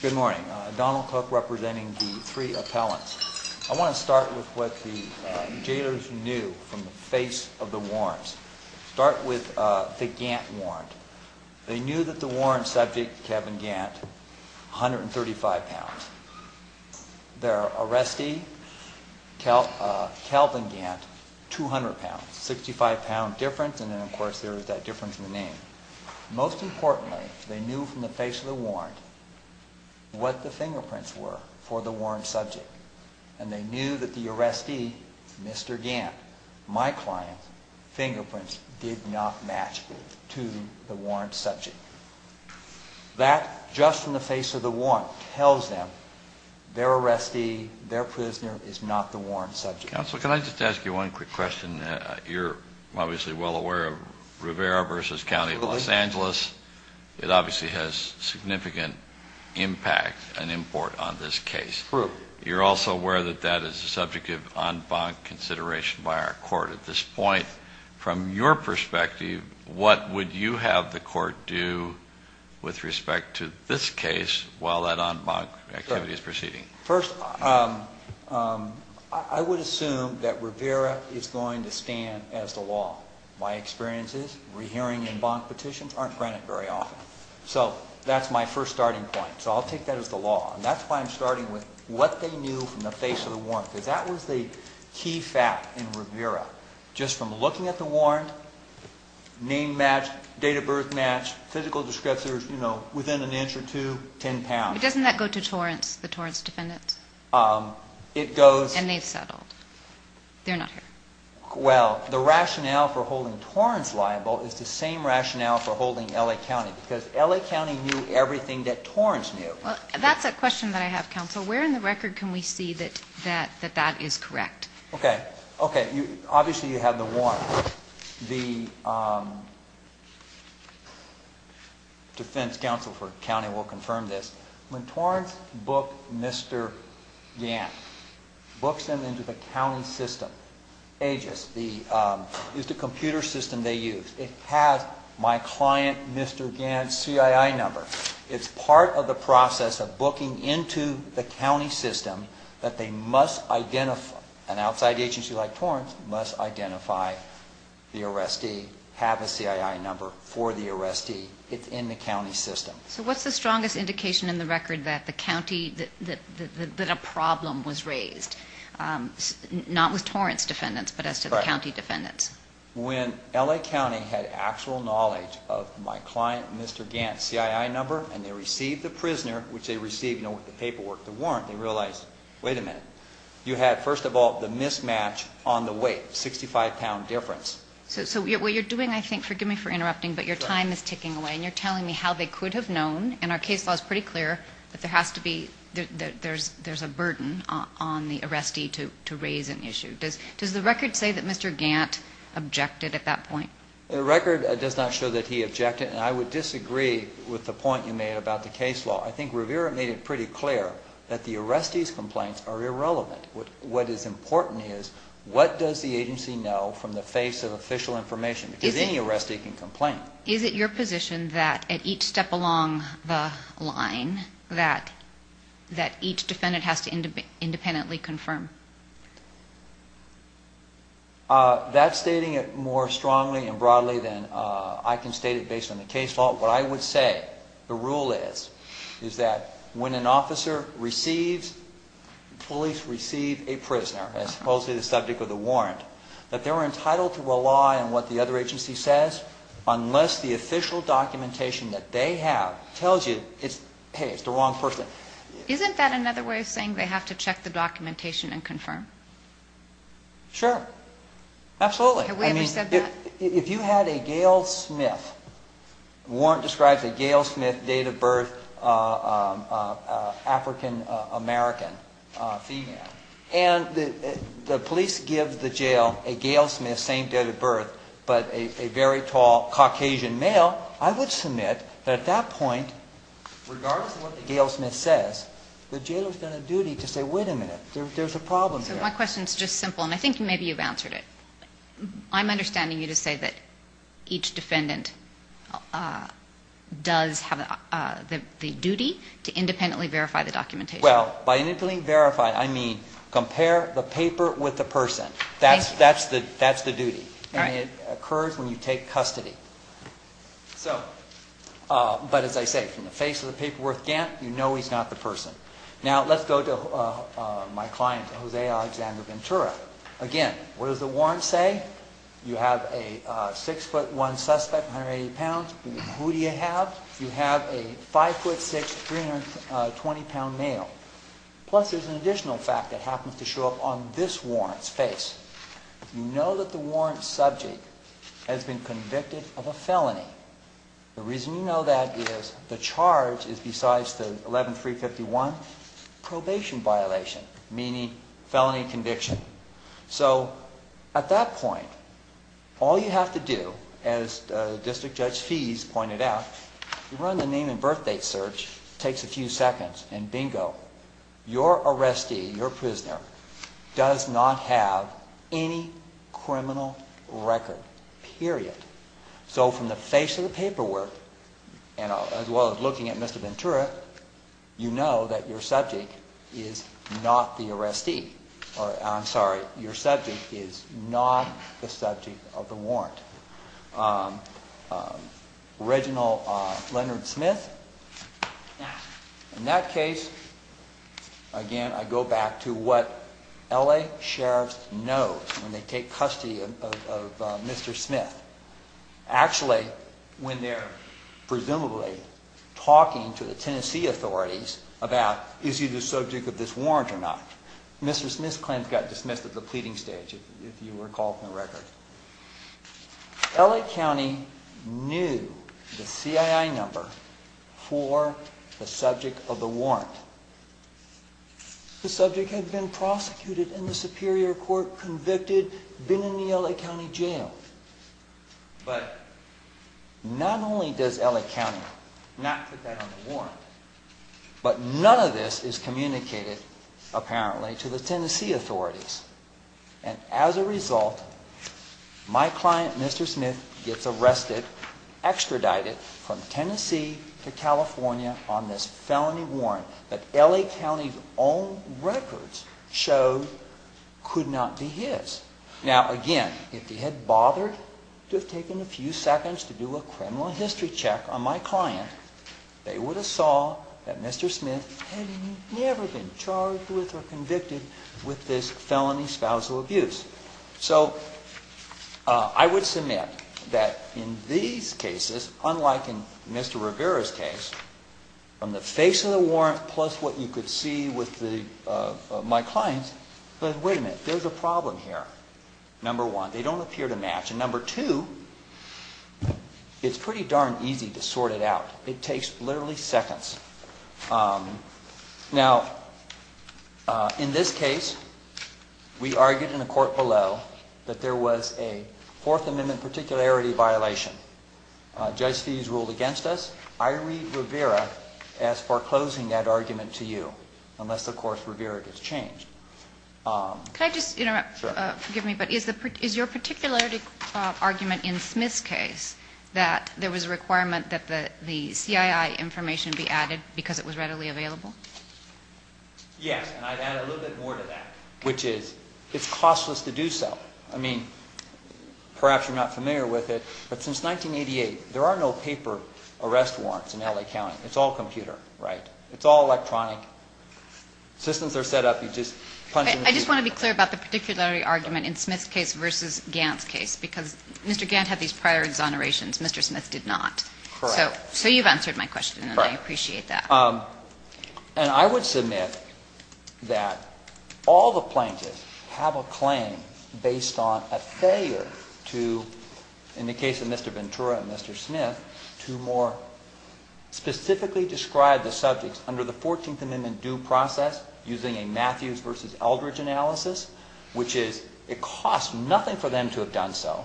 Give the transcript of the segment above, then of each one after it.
Good morning. Donald Cook representing the three appellants. I want to start with what the jailors knew from the face of the warrants. Start with the Gant warrant. They knew that the warrant subject, Kevin Gant, 135 pounds. Their arrestee, Calvin Gant, 200 pounds. 65 pound difference and then of course there is that difference in the name. Most importantly, they knew from the face of the warrant, what the fingerprints were for the warrant subject. And they knew that the arrestee, Mr. Gant, my client, fingerprints did not match to the warrant subject. That, just from the face of the warrant, tells them their arrestee, their prisoner, is not the warrant subject. Counsel, can I just ask you one quick question? You're obviously well aware of Rivera v. County of Los Angeles. It obviously has significant impact and import on this case. True. You're also aware that that is the subject of en banc consideration by our court at this point. From your perspective, what would you have the court do with respect to this case while that en banc activity is proceeding? First, I would assume that Rivera is going to stand as the law. My experience is, re-hearing en banc petitions aren't granted very often. So that's my first starting point. So I'll take that as the law. And that's why I'm starting with what they knew from the face of the warrant. Because that was the key fact in Rivera. Just from looking at the warrant, name matched, date of birth matched, physical descriptors, you know, within an inch or two, 10 pounds. But doesn't that go to Torrance, the Torrance defendant? It goes... And they've settled. They're not here. Well, the rationale for holding Torrance liable is the same rationale for holding L.A. County. Because L.A. County knew everything that Torrance knew. Well, that's a question that I have, Counsel. Where in the record can we see that that is correct? Okay. Okay. Obviously, you have the warrant. The defense counsel for the county will confirm this. When Torrance booked Mr. Gant, books him into the county system, AGIS, it's the computer system they use. It has my client, Mr. Gant's, CII number. It's part of the process of booking into the county system that they must identify, an outside agency like Torrance must identify the arrestee, have a CII number for the arrestee. It's in the county system. So what's the strongest indication in the record that the county, that a problem was raised? Not with Torrance defendants, but as to the county defendants? When L.A. County had actual knowledge of my client, Mr. Gant's, CII number, and they received the prisoner, which they received with the paperwork, the warrant, they realized, wait a minute, you had, first of all, the mismatch on the weight, 65-pound difference. So what you're doing, I think, forgive me for interrupting, but your time is ticking away, and you're telling me how they could have known, and our case law is pretty clear, that there has to be, that there's a burden on the arrestee to raise an issue. Does the record say that Mr. Gant objected at that point? The record does not show that he objected, and I would disagree with the point you made about the case law. I think Rivera made it pretty clear that the arrestee's complaints are irrelevant. What is important is, what does the agency know from the face of official information? Because any arrestee can complain. Is it your position that at each step along the line, that each defendant has to independently confirm? That's stating it more strongly and broadly than I can state it based on the case law. What I would say, the rule is, is that when an officer receives, police receive a prisoner, as opposed to the subject of the warrant, that they're entitled to rely on what the other agency says, unless the official documentation that they have tells you, hey, it's the wrong person. Isn't that another way of saying they have to check the documentation and confirm? Sure. Absolutely. Have we ever said that? If you had a Gail Smith, warrant describes a Gail Smith, date of birth, African-American female, and the police give the jail a Gail Smith, same date of birth, but a very tall Caucasian male, I would submit that at that point, regardless of what the Gail Smith says, the jailer has done a duty to say, wait a minute, there's a problem here. So my question is just simple, and I think maybe you've answered it. I'm understanding you to say that each defendant does have the duty to independently verify the documentation. Well, by independently verify, I mean compare the paper with the person. Thank you. That's the duty. All right. And it occurs when you take custody. So, but as I say, from the face of the paperwork, you know he's not the person. Now, let's go to my client, Jose Alexander Ventura. Again, what does the warrant say? You have a six-foot-one suspect, 180 pounds. Who do you have? You have a five-foot-six, 320-pound male. Plus there's an additional fact that happens to show up on this warrant's face. The reason you know that is the charge is, besides the 11351, probation violation, meaning felony conviction. So at that point, all you have to do, as District Judge Fees pointed out, run the name and birth date search. It takes a few seconds, and bingo, your arrestee, your prisoner, does not have any criminal record, period. So from the face of the paperwork, as well as looking at Mr. Ventura, you know that your subject is not the arrestee. I'm sorry, your subject is not the subject of the warrant. Reginald Leonard Smith. In that case, again, I go back to what L.A. sheriffs know when they take custody of Mr. Smith. Actually, when they're presumably talking to the Tennessee authorities about is he the subject of this warrant or not, Mr. Smith's claim got dismissed at the pleading stage, if you recall from the record. L.A. County knew the CII number for the subject of the warrant. The subject had been prosecuted in the Superior Court, convicted, been in the L.A. County jail. But not only does L.A. County not put that on the warrant, but none of this is communicated, apparently, to the Tennessee authorities. And as a result, my client, Mr. Smith, gets arrested, extradited from Tennessee to California on this felony warrant that L.A. County's own records show could not be his. Now, again, if they had bothered to have taken a few seconds to do a criminal history check on my client, they would have saw that Mr. Smith had never been charged with or convicted with this felony spousal abuse. So I would submit that in these cases, unlike in Mr. Rivera's case, from the face of the warrant plus what you could see with my client, wait a minute, there's a problem here. Number one, they don't appear to match. And number two, it's pretty darn easy to sort it out. It takes literally seconds. Now, in this case, we argued in a court below that there was a Fourth Amendment particularity violation. Judge Fee ruled against us. I read Rivera as foreclosing that argument to you, unless, of course, Rivera gets changed. Can I just interrupt? Sure. Forgive me, but is your particularity argument in Smith's case that there was a requirement that the CII information be added because it was readily available? Yes, and I'd add a little bit more to that, which is it's costless to do so. I mean, perhaps you're not familiar with it, but since 1988, there are no paper arrest warrants in L.A. County. It's all computer, right? It's all electronic. Systems are set up, you just punch in the key. I just want to be clear about the particularity argument in Smith's case versus Gantt's case, because Mr. Gantt had these prior exonerations. Mr. Smith did not. Correct. So you've answered my question, and I appreciate that. Correct. And I would submit that all the plaintiffs have a claim based on a failure to, in the case of Mr. Ventura and Mr. Smith, to more specifically describe the subjects under the Fourteenth Amendment due process using a Matthews versus Eldridge analysis, which is it costs nothing for them to have done so.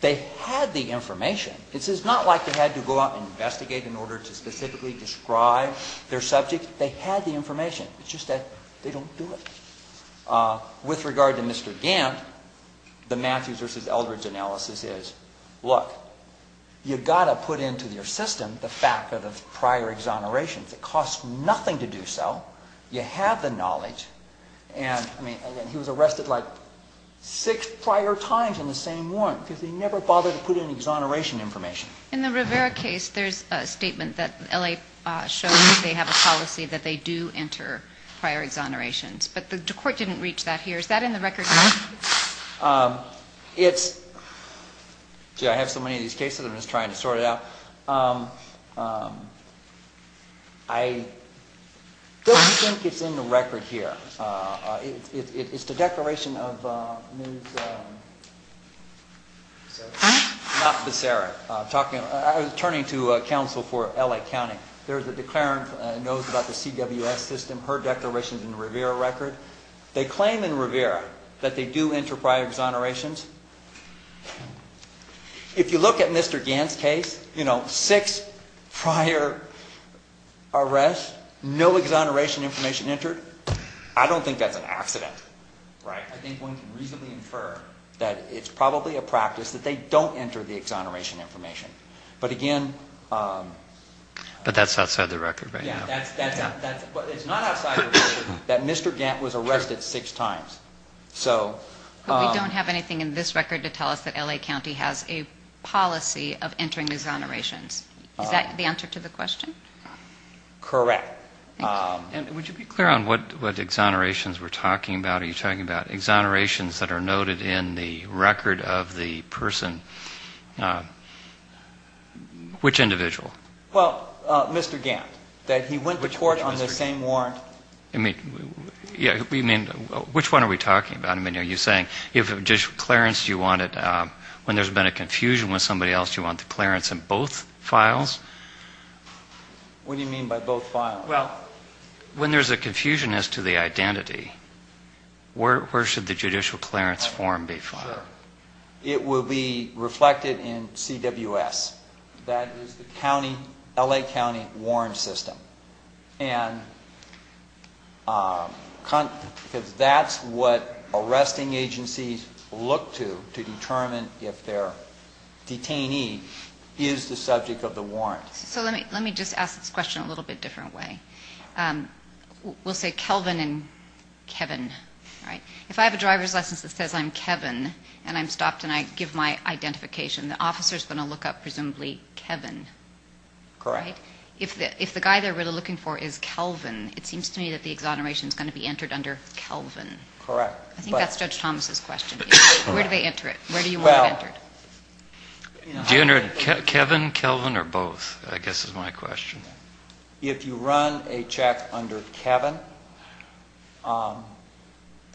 They had the information. This is not like they had to go out and investigate in order to specifically describe their subject. They had the information. It's just that they don't do it. With regard to Mr. Gantt, the Matthews versus Eldridge analysis is, look, you've got to put into your system the fact of the prior exonerations. It costs nothing to do so. You have the knowledge. And, I mean, he was arrested like six prior times in the same warrant because he never bothered to put in exoneration information. In the Rivera case, there's a statement that L.A. shows that they have a policy that they do enter prior exonerations, but the court didn't reach that here. Is that in the record? It's – gee, I have so many of these cases, I'm just trying to sort it out. I don't think it's in the record here. It's the declaration of Ms. – not Becerra. I was turning to counsel for L.A. County. There's a declarant that knows about the CWS system. Her declaration is in the Rivera record. They claim in Rivera that they do enter prior exonerations. If you look at Mr. Gant's case, you know, six prior arrests, no exoneration information entered. I don't think that's an accident, right? I think one can reasonably infer that it's probably a practice that they don't enter the exoneration information. But, again – But that's outside the record right now. Yeah, that's – but it's not outside the record that Mr. Gant was arrested six times. But we don't have anything in this record to tell us that L.A. County has a policy of entering exonerations. Is that the answer to the question? Correct. And would you be clear on what exonerations we're talking about? Are you talking about exonerations that are noted in the record of the person – which individual? Well, Mr. Gant, that he went to court on the same warrant. I mean, yeah, we mean – which one are we talking about? I mean, are you saying if a judicial clearance you wanted when there's been a confusion with somebody else, you want the clearance in both files? What do you mean by both files? Well, when there's a confusion as to the identity, where should the judicial clearance form be filed? It will be reflected in CWS. That is the county – L.A. County Warrant System. And because that's what arresting agencies look to to determine if their detainee is the subject of the warrant. So let me just ask this question a little bit different way. We'll say Kelvin and Kevin, right? If I have a driver's license that says I'm Kevin and I'm stopped and I give my identification, the officer's going to look up presumably Kevin, right? Correct. But if the guy they're really looking for is Kelvin, it seems to me that the exoneration is going to be entered under Kelvin. Correct. I think that's Judge Thomas' question. Where do they enter it? Where do you want it entered? Do you enter it Kevin, Kelvin, or both, I guess is my question. If you run a check under Kevin, a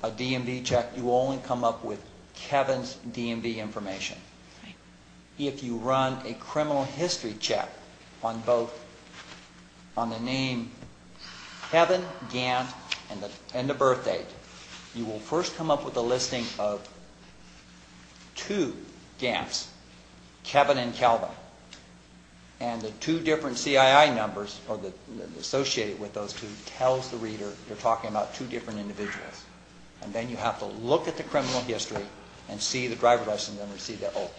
DMV check, you only come up with Kevin's DMV information. If you run a criminal history check on the name Kevin, Gant, and the birthdate, you will first come up with a listing of two Gants, Kevin and Kelvin. And the two different CII numbers associated with those two tells the reader you're talking about two different individuals. And then you have to look at the criminal history and see the driver's license number and see that, oh,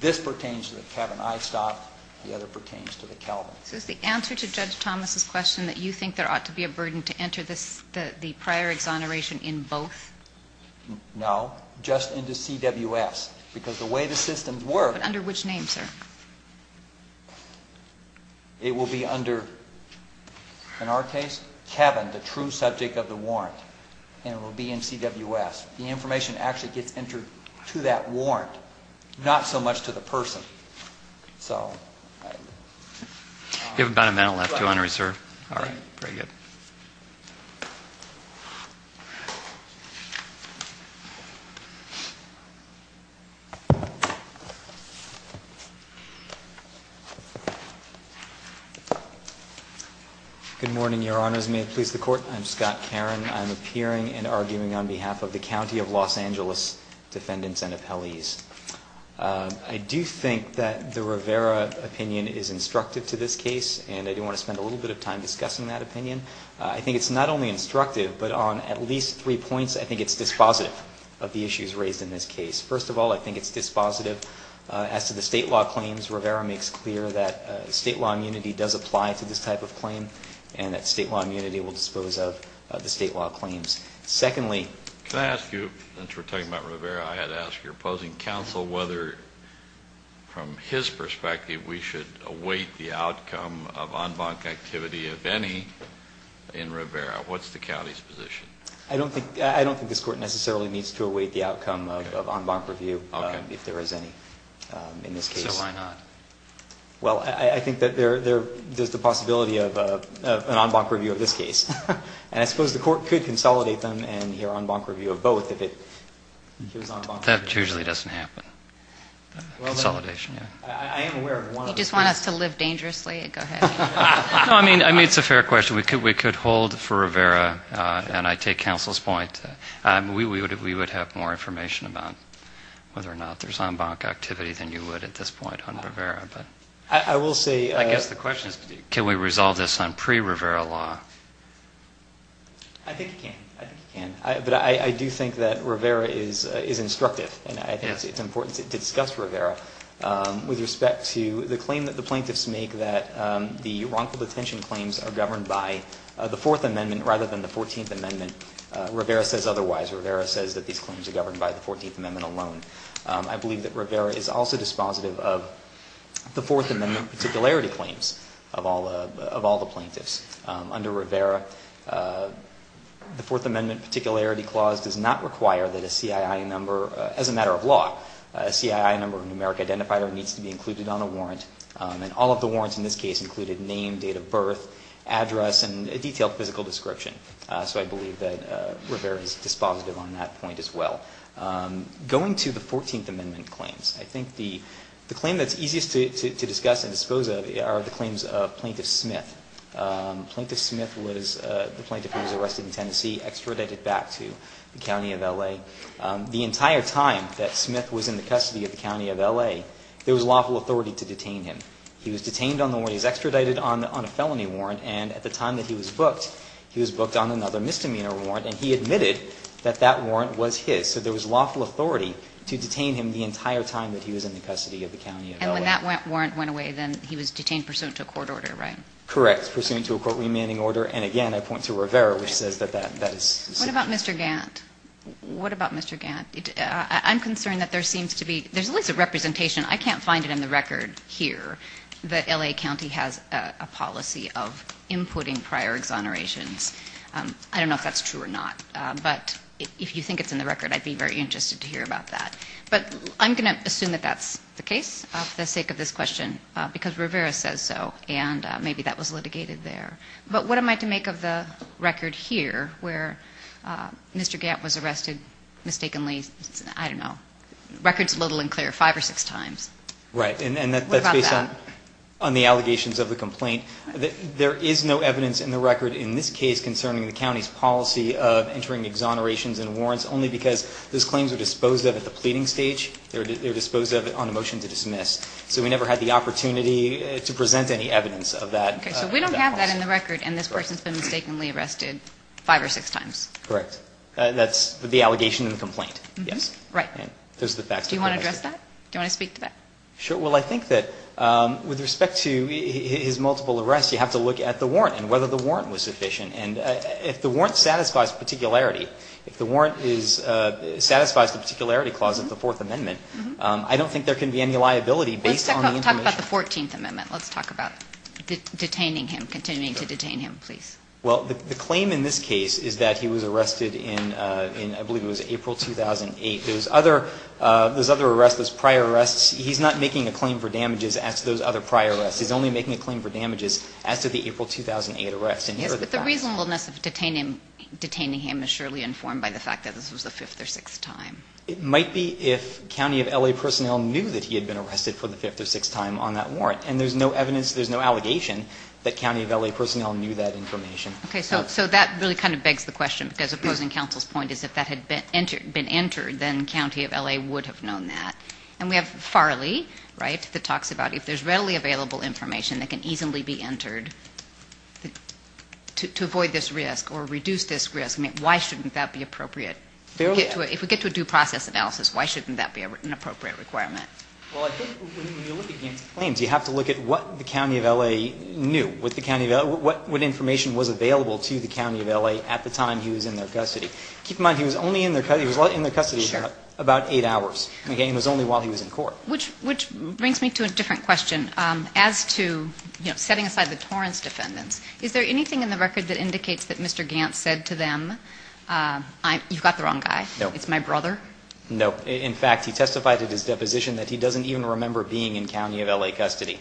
this pertains to the Kevin I stopped, the other pertains to the Kelvin. So is the answer to Judge Thomas' question that you think there ought to be a burden to enter the prior exoneration in both? No. Just into CWS. Because the way the systems work... But under which name, sir? It will be under, in our case, Kevin, the true subject of the warrant. And it will be in CWS. The information actually gets entered to that warrant, not so much to the person. So... You have about a minute left to enter, sir. All right. Very good. Good morning, Your Honors. May it please the Court. I'm Scott Caron. I'm appearing and arguing on behalf of the County of Los Angeles Defendants and Appellees. I do think that the Rivera opinion is instructive to this case, and I do want to spend a little bit of time discussing that opinion. I think it's not only instructive, but on at least three points, I think it's dispositive of the issues raised in this case. First of all, I think it's dispositive as to the state law claims. Rivera makes clear that state law immunity does apply to this type of claim, and that state law immunity will dispose of the state law claims. Secondly... Can I ask you, since we're talking about Rivera, I had to ask your opposing counsel whether, from his perspective, we should await the outcome of en banc activity, if any, in Rivera. What's the county's position? I don't think this Court necessarily needs to await the outcome of en banc review, if there is any in this case. So why not? Well, I think that there's the possibility of an en banc review of this case. And I suppose the Court could consolidate them and hear en banc review of both if it gives en banc review. That usually doesn't happen. Consolidation, yeah. I am aware of one... You just want us to live dangerously? Go ahead. No, I mean, it's a fair question. We could hold for Rivera, and I take counsel's point. We would have more information about whether or not there's en banc activity than you would at this point on Rivera. I will say... I guess the question is, can we resolve this on pre-Rivera law? I think you can. I think you can. But I do think that Rivera is instructive, and I think it's important to discuss Rivera. With respect to the claim that the plaintiffs make that the wrongful detention claims are governed by the Fourth Amendment rather than the Fourteenth Amendment, Rivera says otherwise. Rivera says that these claims are governed by the Fourteenth Amendment alone. I believe that Rivera is also dispositive of the Fourth Amendment particularity claims of all the plaintiffs. Under Rivera, the Fourth Amendment particularity clause does not require that a CII number... As a matter of law, a CII number, a numeric identifier, needs to be included on a warrant. And all of the warrants in this case included name, date of birth, address, and a detailed physical description. So I believe that Rivera is dispositive on that point as well. Going to the Fourteenth Amendment claims, I think the claim that's easiest to discuss and dispose of are the claims of Plaintiff Smith. Plaintiff Smith was the plaintiff who was arrested in Tennessee, extradited back to the county of L.A. The entire time that Smith was in the custody of the county of L.A., there was lawful authority to detain him. He was detained on the warrant. He was extradited on a felony warrant. And at the time that he was booked, he was booked on another misdemeanor warrant. And he admitted that that warrant was his. So there was lawful authority to detain him the entire time that he was in the custody of the county of L.A. And when that warrant went away, then he was detained pursuant to a court order, right? Correct, pursuant to a court remanding order. And again, I point to Rivera, which says that that is sufficient. What about Mr. Gantt? What about Mr. Gantt? I'm concerned that there seems to be at least a representation. I can't find it in the record here that L.A. County has a policy of inputting prior exonerations. I don't know if that's true or not. But if you think it's in the record, I'd be very interested to hear about that. But I'm going to assume that that's the case for the sake of this question because Rivera says so. And maybe that was litigated there. But what am I to make of the record here where Mr. Gantt was arrested mistakenly? I don't know. Record's little and clear five or six times. Right. And that's based on the allegations of the complaint. There is no evidence in the record in this case concerning the county's policy of entering exonerations and warrants only because those claims are disposed of at the pleading stage. They're disposed of on a motion to dismiss. So we never had the opportunity to present any evidence of that. Okay. So we don't have that in the record, and this person's been mistakenly arrested five or six times. Correct. That's the allegation and the complaint, yes. Right. Do you want to address that? Do you want to speak to that? Sure. Well, I think that with respect to his multiple arrests, you have to look at the warrant and whether the warrant was sufficient. And if the warrant satisfies particularity, if the warrant satisfies the particularity clause of the Fourth Amendment, I don't think there can be any liability based on the information. Let's talk about the Fourteenth Amendment. Let's talk about detaining him, continuing to detain him, please. Well, the claim in this case is that he was arrested in, I believe it was April 2008. Those other arrests, those prior arrests, he's not making a claim for damages as to those other prior arrests. He's only making a claim for damages as to the April 2008 arrests. And here are the facts. Yes, but the reasonableness of detaining him is surely informed by the fact that this was the fifth or sixth time. It might be if county of L.A. personnel knew that he had been arrested for the fifth or sixth time on that warrant. And there's no evidence, there's no allegation that county of L.A. personnel knew that information. Okay. So that really kind of begs the question, because opposing counsel's point is if that had been entered, then county of L.A. would have known that. And we have Farley, right, that talks about if there's readily available information that can easily be entered to avoid this risk or reduce this risk, why shouldn't that be appropriate? If we get to a due process analysis, why shouldn't that be an appropriate requirement? Well, I think when you look at Gant's claims, you have to look at what the county of L.A. knew, what information was available to the county of L.A. at the time he was in their custody. Keep in mind, he was only in their custody about eight hours. He was only while he was in court. Which brings me to a different question. As to setting aside the Torrance defendants, is there anything in the record that indicates that Mr. Gant said to them, you've got the wrong guy, it's my brother? No. In fact, he testified at his deposition that he doesn't even remember being in county of L.A. custody. He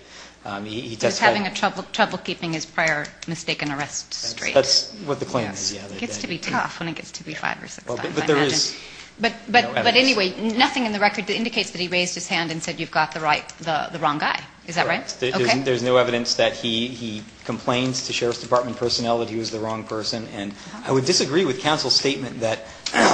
testified. He was having trouble keeping his prior mistaken arrest straight. That's what the claim is. It gets to be tough when it gets to be five or six times, I imagine. But there is no evidence. But anyway, nothing in the record indicates that he raised his hand and said, you've got the wrong guy. Is that right? There's no evidence that he complains to Sheriff's Department personnel that he was the wrong person. And I would disagree with counsel's statement that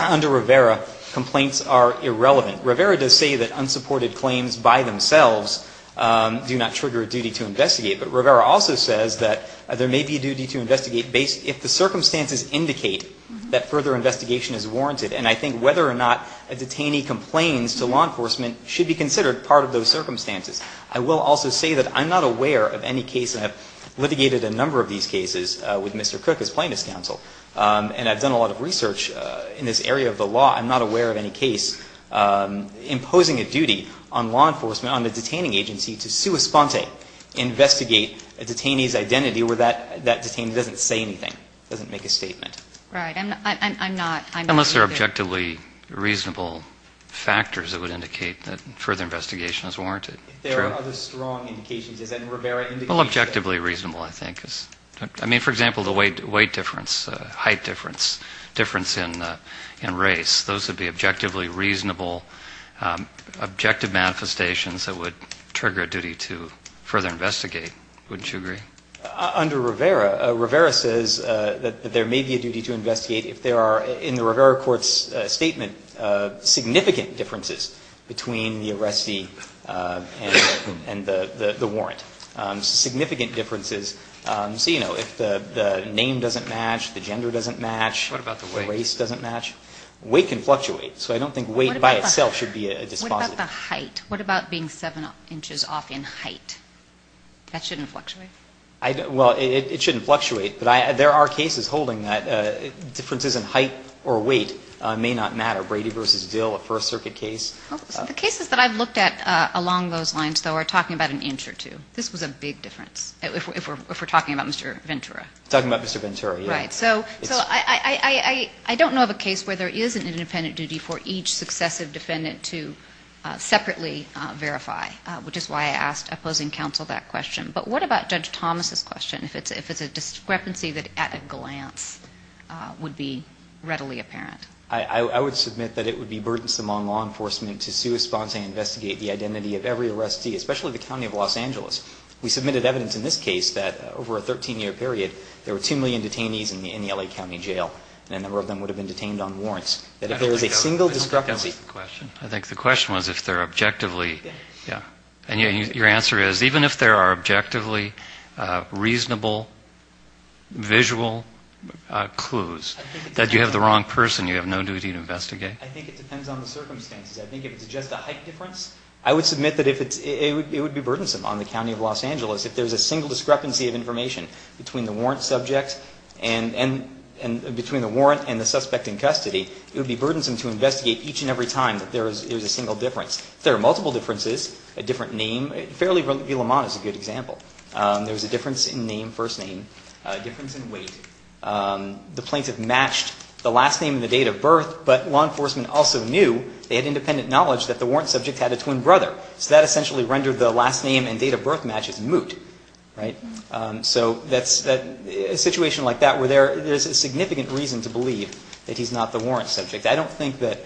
under Rivera, complaints are irrelevant. Rivera does say that unsupported claims by themselves do not trigger a duty to investigate. But Rivera also says that there may be a duty to investigate if the circumstances indicate that further investigation is warranted. And I think whether or not a detainee complains to law enforcement should be considered part of those circumstances. I will also say that I'm not aware of any case, and I've litigated a number of these cases with Mr. Crook as plaintiff's counsel. And I've done a lot of research in this area of the law. I'm not aware of any case imposing a duty on law enforcement, on the detaining agency, to sua sponte, investigate a detainee's identity where that detainee doesn't say anything, doesn't make a statement. Right. I'm not. Unless there are objectively reasonable factors that would indicate that further investigation is warranted. True. If there are other strong indications. Well, objectively reasonable, I think. I mean, for example, the weight difference, height difference, difference in race, those would be objectively reasonable, objective manifestations that would trigger a duty to further investigate. Wouldn't you agree? Under Rivera, Rivera says that there may be a duty to investigate if there are, in the Rivera court's statement, significant differences between the arrestee and the warrant. Significant differences. So, you know, if the name doesn't match, the gender doesn't match, race doesn't What about the weight? Weight can fluctuate. So I don't think weight by itself should be a dispositive. What about the height? What about being seven inches off in height? That shouldn't fluctuate. Well, it shouldn't fluctuate. But there are cases holding that differences in height or weight may not matter. Brady v. Dill, a First Circuit case. The cases that I've looked at along those lines, though, are talking about an inch or two. This was a big difference, if we're talking about Mr. Ventura. Talking about Mr. Ventura, yes. Right. So I don't know of a case where there is an independent duty for each successive defendant to separately verify, which is why I asked opposing counsel that question. But what about Judge Thomas's question, if it's a discrepancy that at a glance would be readily apparent? I would submit that it would be burdensome on law enforcement to sui sponte to investigate the identity of every arrestee, especially the County of Los Angeles. We submitted evidence in this case that over a 13-year period, there were 2 million detainees in the L.A. County Jail, and a number of them would have been detained on warrants. That if there is a single discrepancy. I think that was the question. I think the question was if they're objectively, yeah. And your answer is, even if there are objectively reasonable visual clues, that you have the wrong person, you have no duty to investigate? I think it depends on the circumstances. I think if it's just a height difference, I would submit that it would be burdensome on the County of Los Angeles. If there's a single discrepancy of information between the warrant subject and between the warrant and the suspect in custody, it would be burdensome to investigate each and every time that there is a single difference. If there are multiple differences, a different name, Fairley v. Lamont is a good example. There was a difference in name, first name, a difference in weight. The plaintiff matched the last name and the date of birth, but law enforcement also knew, they had independent knowledge, that the warrant subject had a twin brother. So that essentially rendered the last name and date of birth matches moot. Right? So that's a situation like that where there's a significant reason to believe that he's not the warrant subject. I don't think that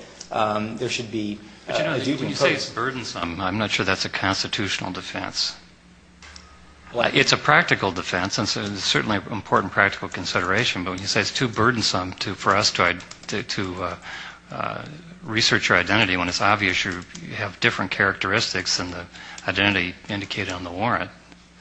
there should be a duty imposed. But, you know, when you say it's burdensome, I'm not sure that's a constitutional defense. It's a practical defense, and certainly an important practical consideration. But when you say it's too burdensome for us to research your identity when it's obvious you have different characteristics than the identity indicated on the warrant,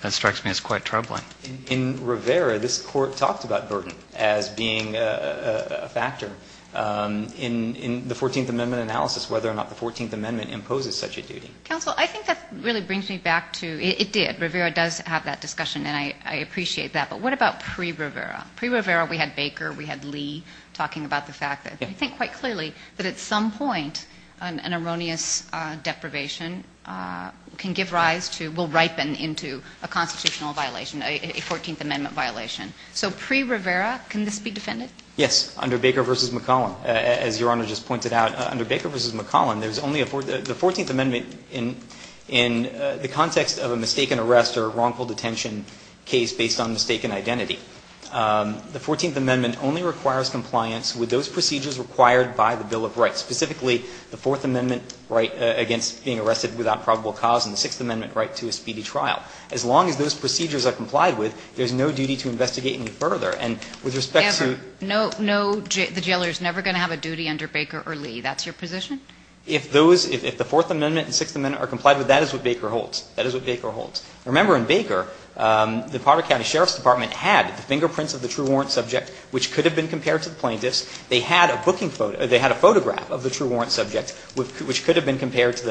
that strikes me as quite troubling. In Rivera, this Court talked about burden as being a factor in the 14th Amendment analysis, whether or not the 14th Amendment imposes such a duty. Counsel, I think that really brings me back to – it did. Rivera does have that discussion, and I appreciate that. But what about pre-Rivera? Pre-Rivera, we had Baker, we had Lee talking about the fact that I think quite clearly that at some point an erroneous deprivation can give rise to – will ripen into a constitutional violation, a 14th Amendment violation. So pre-Rivera, can this be defended? Yes, under Baker v. McCollum. As Your Honor just pointed out, under Baker v. McCollum, there's only a – the 14th Amendment in the context of a mistaken arrest or wrongful detention case based on mistaken identity. The 14th Amendment only requires compliance with those procedures required by the Bill of Rights, specifically the Fourth Amendment right against being arrested without probable cause and the Sixth Amendment right to a speedy trial. As long as those procedures are complied with, there's no duty to investigate any further. And with respect to – Ever. No, no, the jailer is never going to have a duty under Baker or Lee. That's your position? If those – if the Fourth Amendment and Sixth Amendment are complied with, that is what Baker holds. That is what Baker holds. Remember in Baker, the Potter County Sheriff's Department had the fingerprints of the true warrant subject, which could have been compared to the plaintiff's. They had a booking – they had a photograph of the true warrant subject, which could have been compared to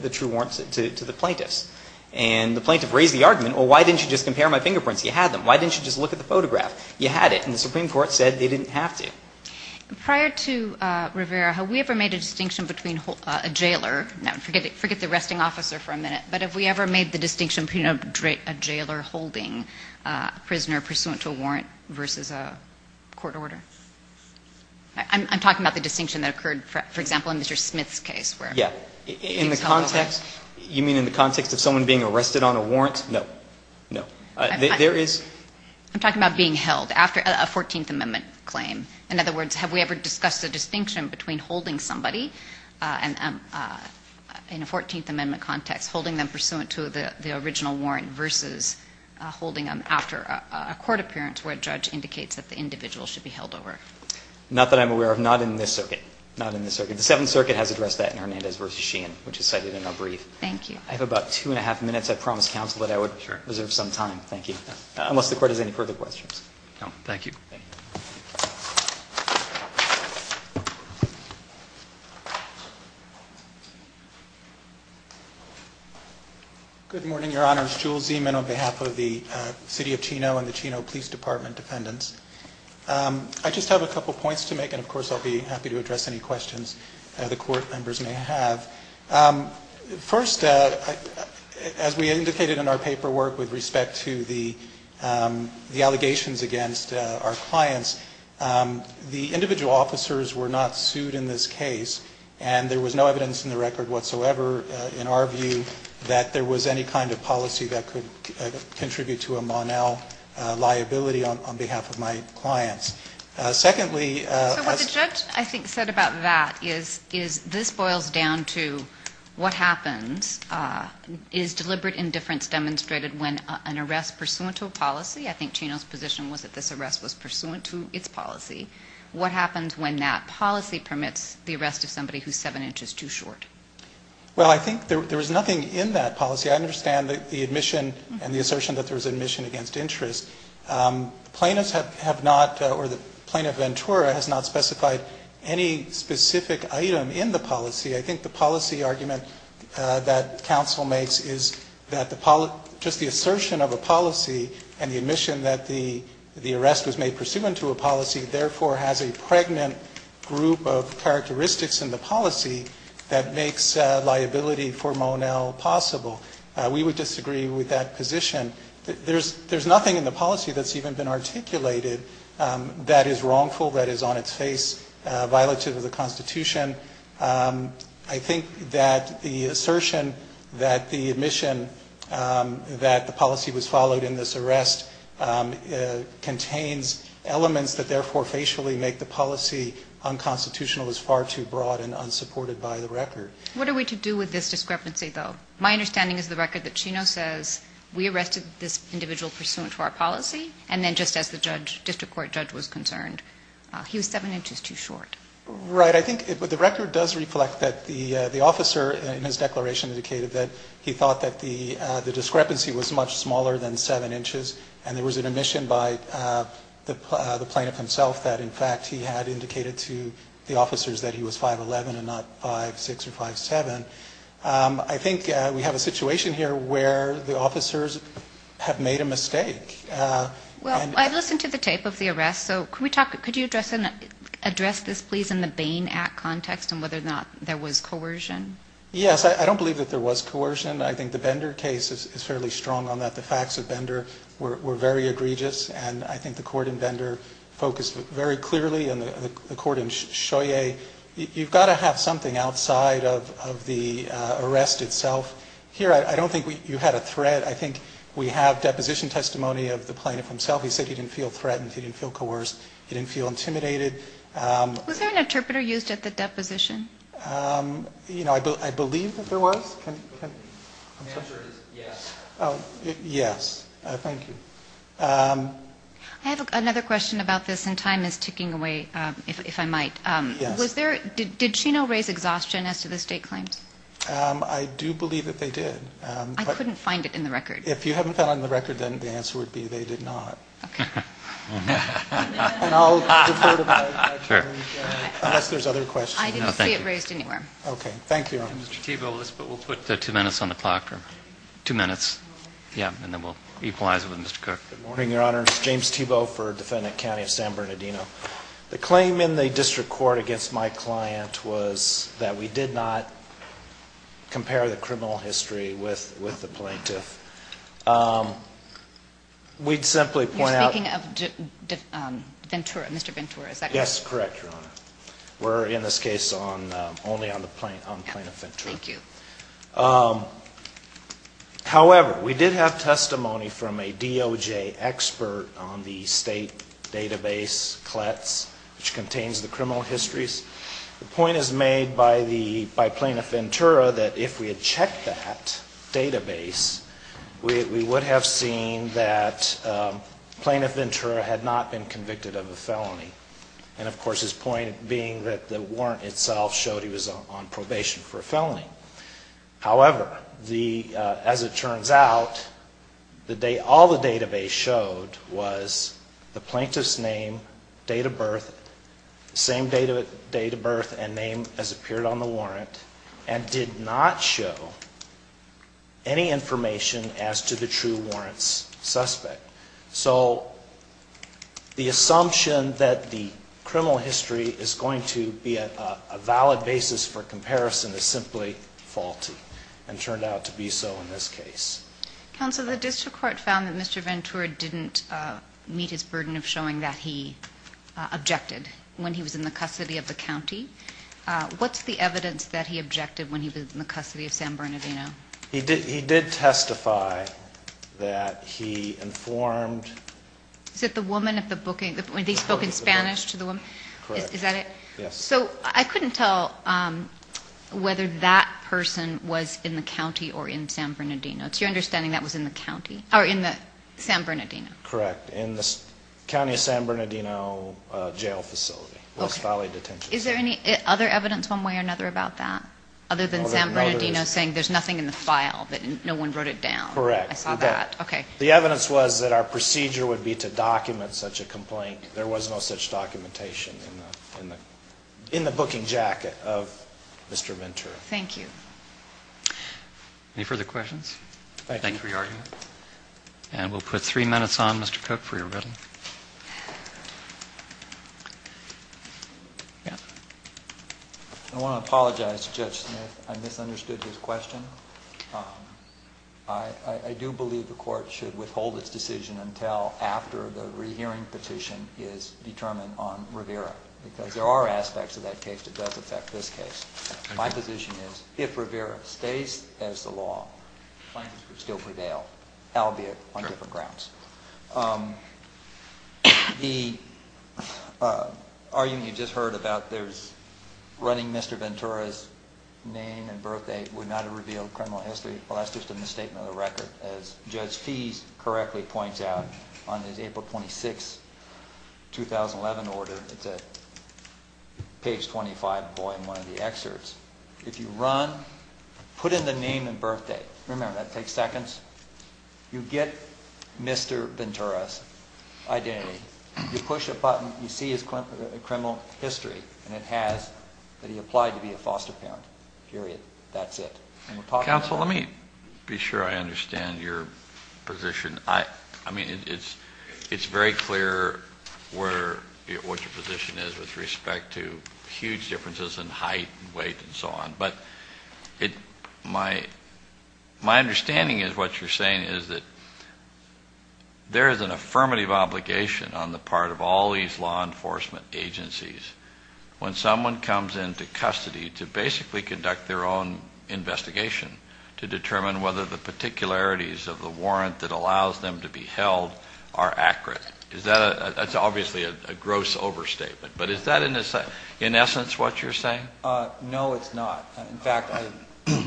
the true warrant – to the plaintiff's. And the plaintiff raised the argument, well, why didn't you just compare my fingerprints? You had them. Why didn't you just look at the photograph? You had it. And the Supreme Court said they didn't have to. Prior to Rivera, have we ever made a distinction between a jailer – now, forget the arresting officer for a minute. But have we ever made the distinction between a jailer holding a prisoner pursuant to a warrant versus a court order? I'm talking about the distinction that occurred, for example, in Mr. Smith's case where – Yeah. In the context – you mean in the context of someone being arrested on a warrant? No. No. There is – I'm talking about being held after a Fourteenth Amendment claim. In other words, have we ever discussed the distinction between holding somebody in a Fourteenth Amendment context, holding them pursuant to the original warrant versus holding them after a court appearance where a judge indicates that the individual should be held over? Not that I'm aware of. Not in this circuit. Not in this circuit. The Seventh Circuit has addressed that in Hernandez v. Sheehan, which is cited in our brief. Thank you. I have about two and a half minutes. I promised counsel that I would reserve some time. Thank you. Unless the Court has any further questions. No. Thank you. Thank you. Thank you. Thank you. Thank you. Thank you. Thank you. Good morning, Your Honors. Jules Zeman on behalf of the City of Chino and the Chino Police Department defendants. I just have a couple of points to make, and of course I'll be happy to address any questions that the Court members may have. First, as we indicated in our paperwork with respect to the allegations against our clients, the individual officers were not sued in this case, and there was no evidence in the record whatsoever, in our view, that there was any kind of policy that could contribute to a Monel liability on behalf of my clients. Secondly... So what the judge, I think, said about that is this boils down to what happens. Is deliberate indifference demonstrated when an arrest pursuant to a policy? I think Chino's position was that this arrest was pursuant to its policy. What happens when that policy permits the arrest of somebody who's seven inches too short? Well, I think there was nothing in that policy. I understand the admission and the assertion that there was admission against interest. Plaintiffs have not, or the plaintiff Ventura has not specified any specific item in the policy. I think the policy argument that counsel makes is that just the assertion of a policy and the admission that the arrest was made pursuant to a policy, therefore has a pregnant group of characteristics in the policy that makes liability for Monel possible. We would disagree with that position. There's nothing in the policy that's even been articulated that is wrongful, that is on its face, violative of the Constitution. I think that the assertion that the admission that the policy was followed in this arrest contains elements that therefore facially make the policy unconstitutional is far too broad and unsupported by the record. What are we to do with this discrepancy, though? My understanding is the record that Chino says we arrested this individual pursuant to our policy, and then just as the district court judge was concerned, he was 7 inches too short. Right. I think the record does reflect that the officer in his declaration indicated that he thought that the discrepancy was much smaller than 7 inches, and there was an admission by the plaintiff himself that, in fact, he had indicated to the officers that he was 5'11", and not 5'6", or 5'7". I think we have a situation here where the officers have made a mistake. Well, I've listened to the tape of the arrest, so could you address this, please, in the Bain Act context and whether or not there was coercion? Yes. I don't believe that there was coercion. I think the Bender case is fairly strong on that. The facts of Bender were very egregious, and I think the court in Bender focused very clearly, and the court in Scheuer, you've got to have something outside of the arrest itself. Here, I don't think you had a threat. I think we have deposition testimony of the plaintiff himself. He said he didn't feel threatened. He didn't feel coerced. He didn't feel intimidated. Was there an interpreter used at the deposition? You know, I believe that there was. The answer is yes. Yes. Thank you. I have another question about this, and time is ticking away, if I might. Yes. Did Chino raise exhaustion as to the state claims? I do believe that they did. I couldn't find it in the record. If you haven't found it in the record, then the answer would be they did not. Okay. And I'll defer to my attorney, unless there's other questions. No, thank you. I didn't see it raised anywhere. Okay. Thank you. Mr. Thibault, we'll put two minutes on the clock. Two minutes. Yeah, and then we'll equalize it with Mr. Cook. Good morning, Your Honor. It's James Thibault for defendant county of San Bernardino. The claim in the district court against my client was that we did not compare the criminal history with the plaintiff. We'd simply point out. You're speaking of Ventura, Mr. Ventura. Is that correct? Yes, correct, Your Honor. We're, in this case, only on the plaintiff Ventura. Thank you. However, we did have testimony from a DOJ expert on the state database, CLETS, which contains the criminal histories. The point is made by the, by plaintiff Ventura that if we had checked that database, we would have seen that plaintiff Ventura had not been convicted of a felony. And, of course, his point being that the warrant itself showed he was on probation for a felony. However, the, as it turns out, all the database showed was the plaintiff's name, date of birth, same date of birth and name as appeared on the warrant, and did not show any information as to the true warrant's suspect. So, the assumption that the criminal history is going to be a valid basis for comparison is simply faulty, and turned out to be so in this case. Counsel, the district court found that Mr. Ventura didn't meet his burden of showing that he objected when he was in the custody of the county. What's the evidence that he objected when he was in the custody of San Bernardino? He did, he did testify that he informed... Is it the woman at the booking, that he spoke in Spanish to the woman? Correct. Is that it? Yes. So, I couldn't tell whether that person was in the county or in San Bernardino. It's your understanding that was in the county, or in the San Bernardino? Correct, in the county of San Bernardino jail facility, West Valley Detention Center. Is there any other evidence one way or another about that? Other than San Bernardino saying there's nothing in the file, that no one wrote it down. Correct. I saw that. Okay. The evidence was that our procedure would be to document such a complaint. There was no such documentation in the booking jacket of Mr. Ventura. Thank you. Any further questions? Thank you for your argument. And we'll put three minutes on, Mr. Cook, for your reading. I want to apologize to Judge Smith. I misunderstood his question. I do believe the court should withhold its decision until after the rehearing petition is determined on Rivera. Because there are aspects of that case that does affect this case. My position is, if Rivera stays as the law, claims could still prevail, albeit on different grounds. The argument you just heard about running Mr. Ventura's name and birth date would not have revealed criminal history. Well, that's just a misstatement of the record. As Judge Fease correctly points out on his April 26, 2011 order, it's at page 25, volume one of the excerpts. If you run, put in the name and birth date. Remember, that takes seconds. You get Mr. Ventura's identity. You push a button. You see his criminal history. And it has that he applied to be a foster parent. Period. That's it. Counsel, let me be sure I understand your position. I mean, it's very clear what your position is with respect to huge differences in height and weight and so on. But my understanding is what you're saying is that there is an affirmative obligation on the part of all these law enforcement agencies when someone comes into custody to basically conduct their own investigation to determine whether the particularities of the warrant that allows them to be held are accurate. That's obviously a gross overstatement. But is that, in essence, what you're saying? No, it's not. In fact,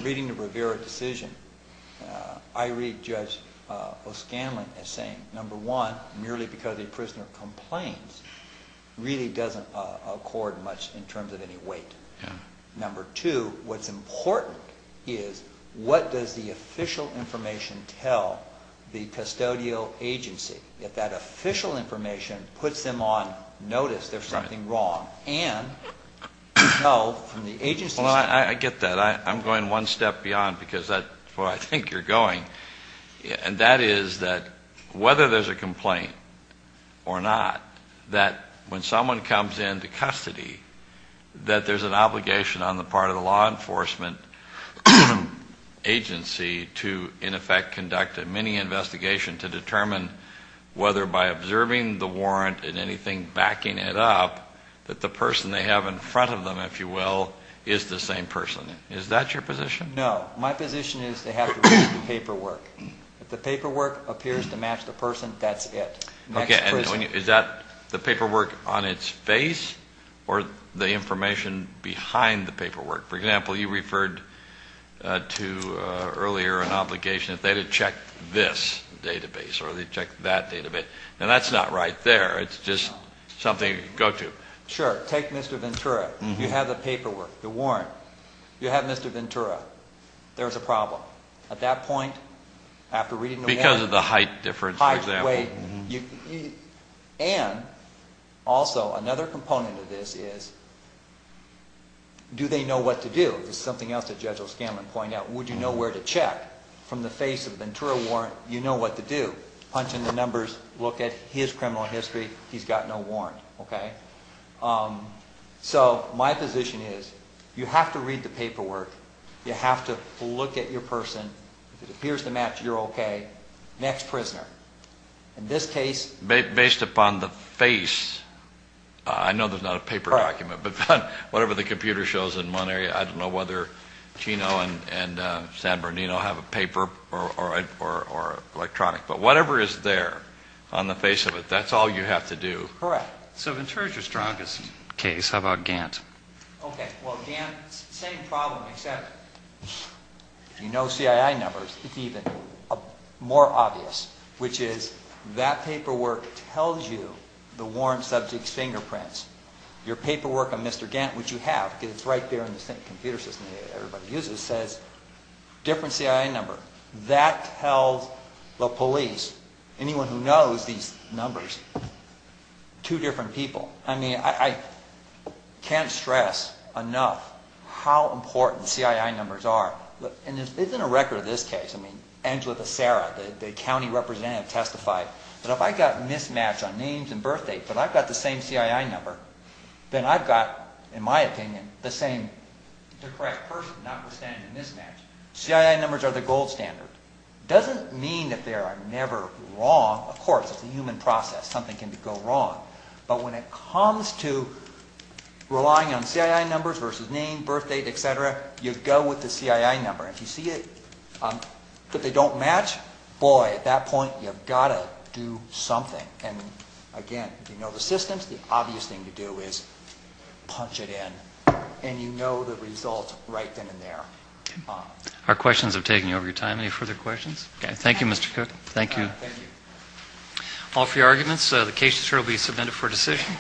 reading the Rivera decision, I read Judge O'Scanlan as saying, number one, merely because a prisoner complains really doesn't accord much in terms of any weight. Number two, what's important is what does the official information tell the custodial agency? If that official information puts them on notice there's something wrong and we know from the agency's standpoint. Well, I get that. I'm going one step beyond because that's where I think you're going. And that is that whether there's a complaint or not, that when someone comes into custody, that there's an obligation on the part of the law enforcement agency to, in effect, conduct a mini-investigation to determine whether by observing the warrant and anything backing it up, that the person they have in front of them, if you will, is the same person. Is that your position? No. My position is they have to read the paperwork. If the paperwork appears to match the person, that's it. For example, you referred to earlier an obligation that they would check this database or they'd check that database. Now, that's not right there. It's just something to go to. Sure. Take Mr. Ventura. You have the paperwork, the warrant. You have Mr. Ventura. There's a problem. At that point, after reading the warrant. Because of the height difference, for example. Height, weight. And also, another component of this is, do they know what to do? This is something else that Judge O'Scanlan pointed out. Would you know where to check? From the face of the Ventura warrant, you know what to do. Punch in the numbers. Look at his criminal history. He's got no warrant. So my position is you have to read the paperwork. You have to look at your person. If it appears to match, you're okay. Next prisoner. In this case. Based upon the face. I know there's not a paper document. But whatever the computer shows in one area, I don't know whether Chino and San Bernardino have a paper or electronic. But whatever is there on the face of it, that's all you have to do. Correct. So Ventura's your strongest case. How about Gantt? Okay. Well, Gantt, same problem except you know CII numbers. It's even more obvious, which is that paperwork tells you the warrant subject's fingerprints. Your paperwork on Mr. Gantt, which you have because it's right there in the same computer system that everybody uses, says different CII number. That tells the police, anyone who knows these numbers, two different people. I mean, I can't stress enough how important CII numbers are. And there's been a record of this case. I mean, Angela Becerra, the county representative, testified that if I got mismatched on names and birth dates but I've got the same CII number, then I've got, in my opinion, the same correct person, notwithstanding the mismatch. CII numbers are the gold standard. It doesn't mean that they are never wrong. Of course, it's a human process. Something can go wrong. But when it comes to relying on CII numbers versus name, birth date, et cetera, you go with the CII number. If you see that they don't match, boy, at that point you've got to do something. And, again, if you know the systems, the obvious thing to do is punch it in. And you know the results right then and there. Our questions have taken you over your time. Any further questions? Okay. Thank you, Mr. Cook. Thank you. Thank you. All for your arguments. The case will be submitted for decision.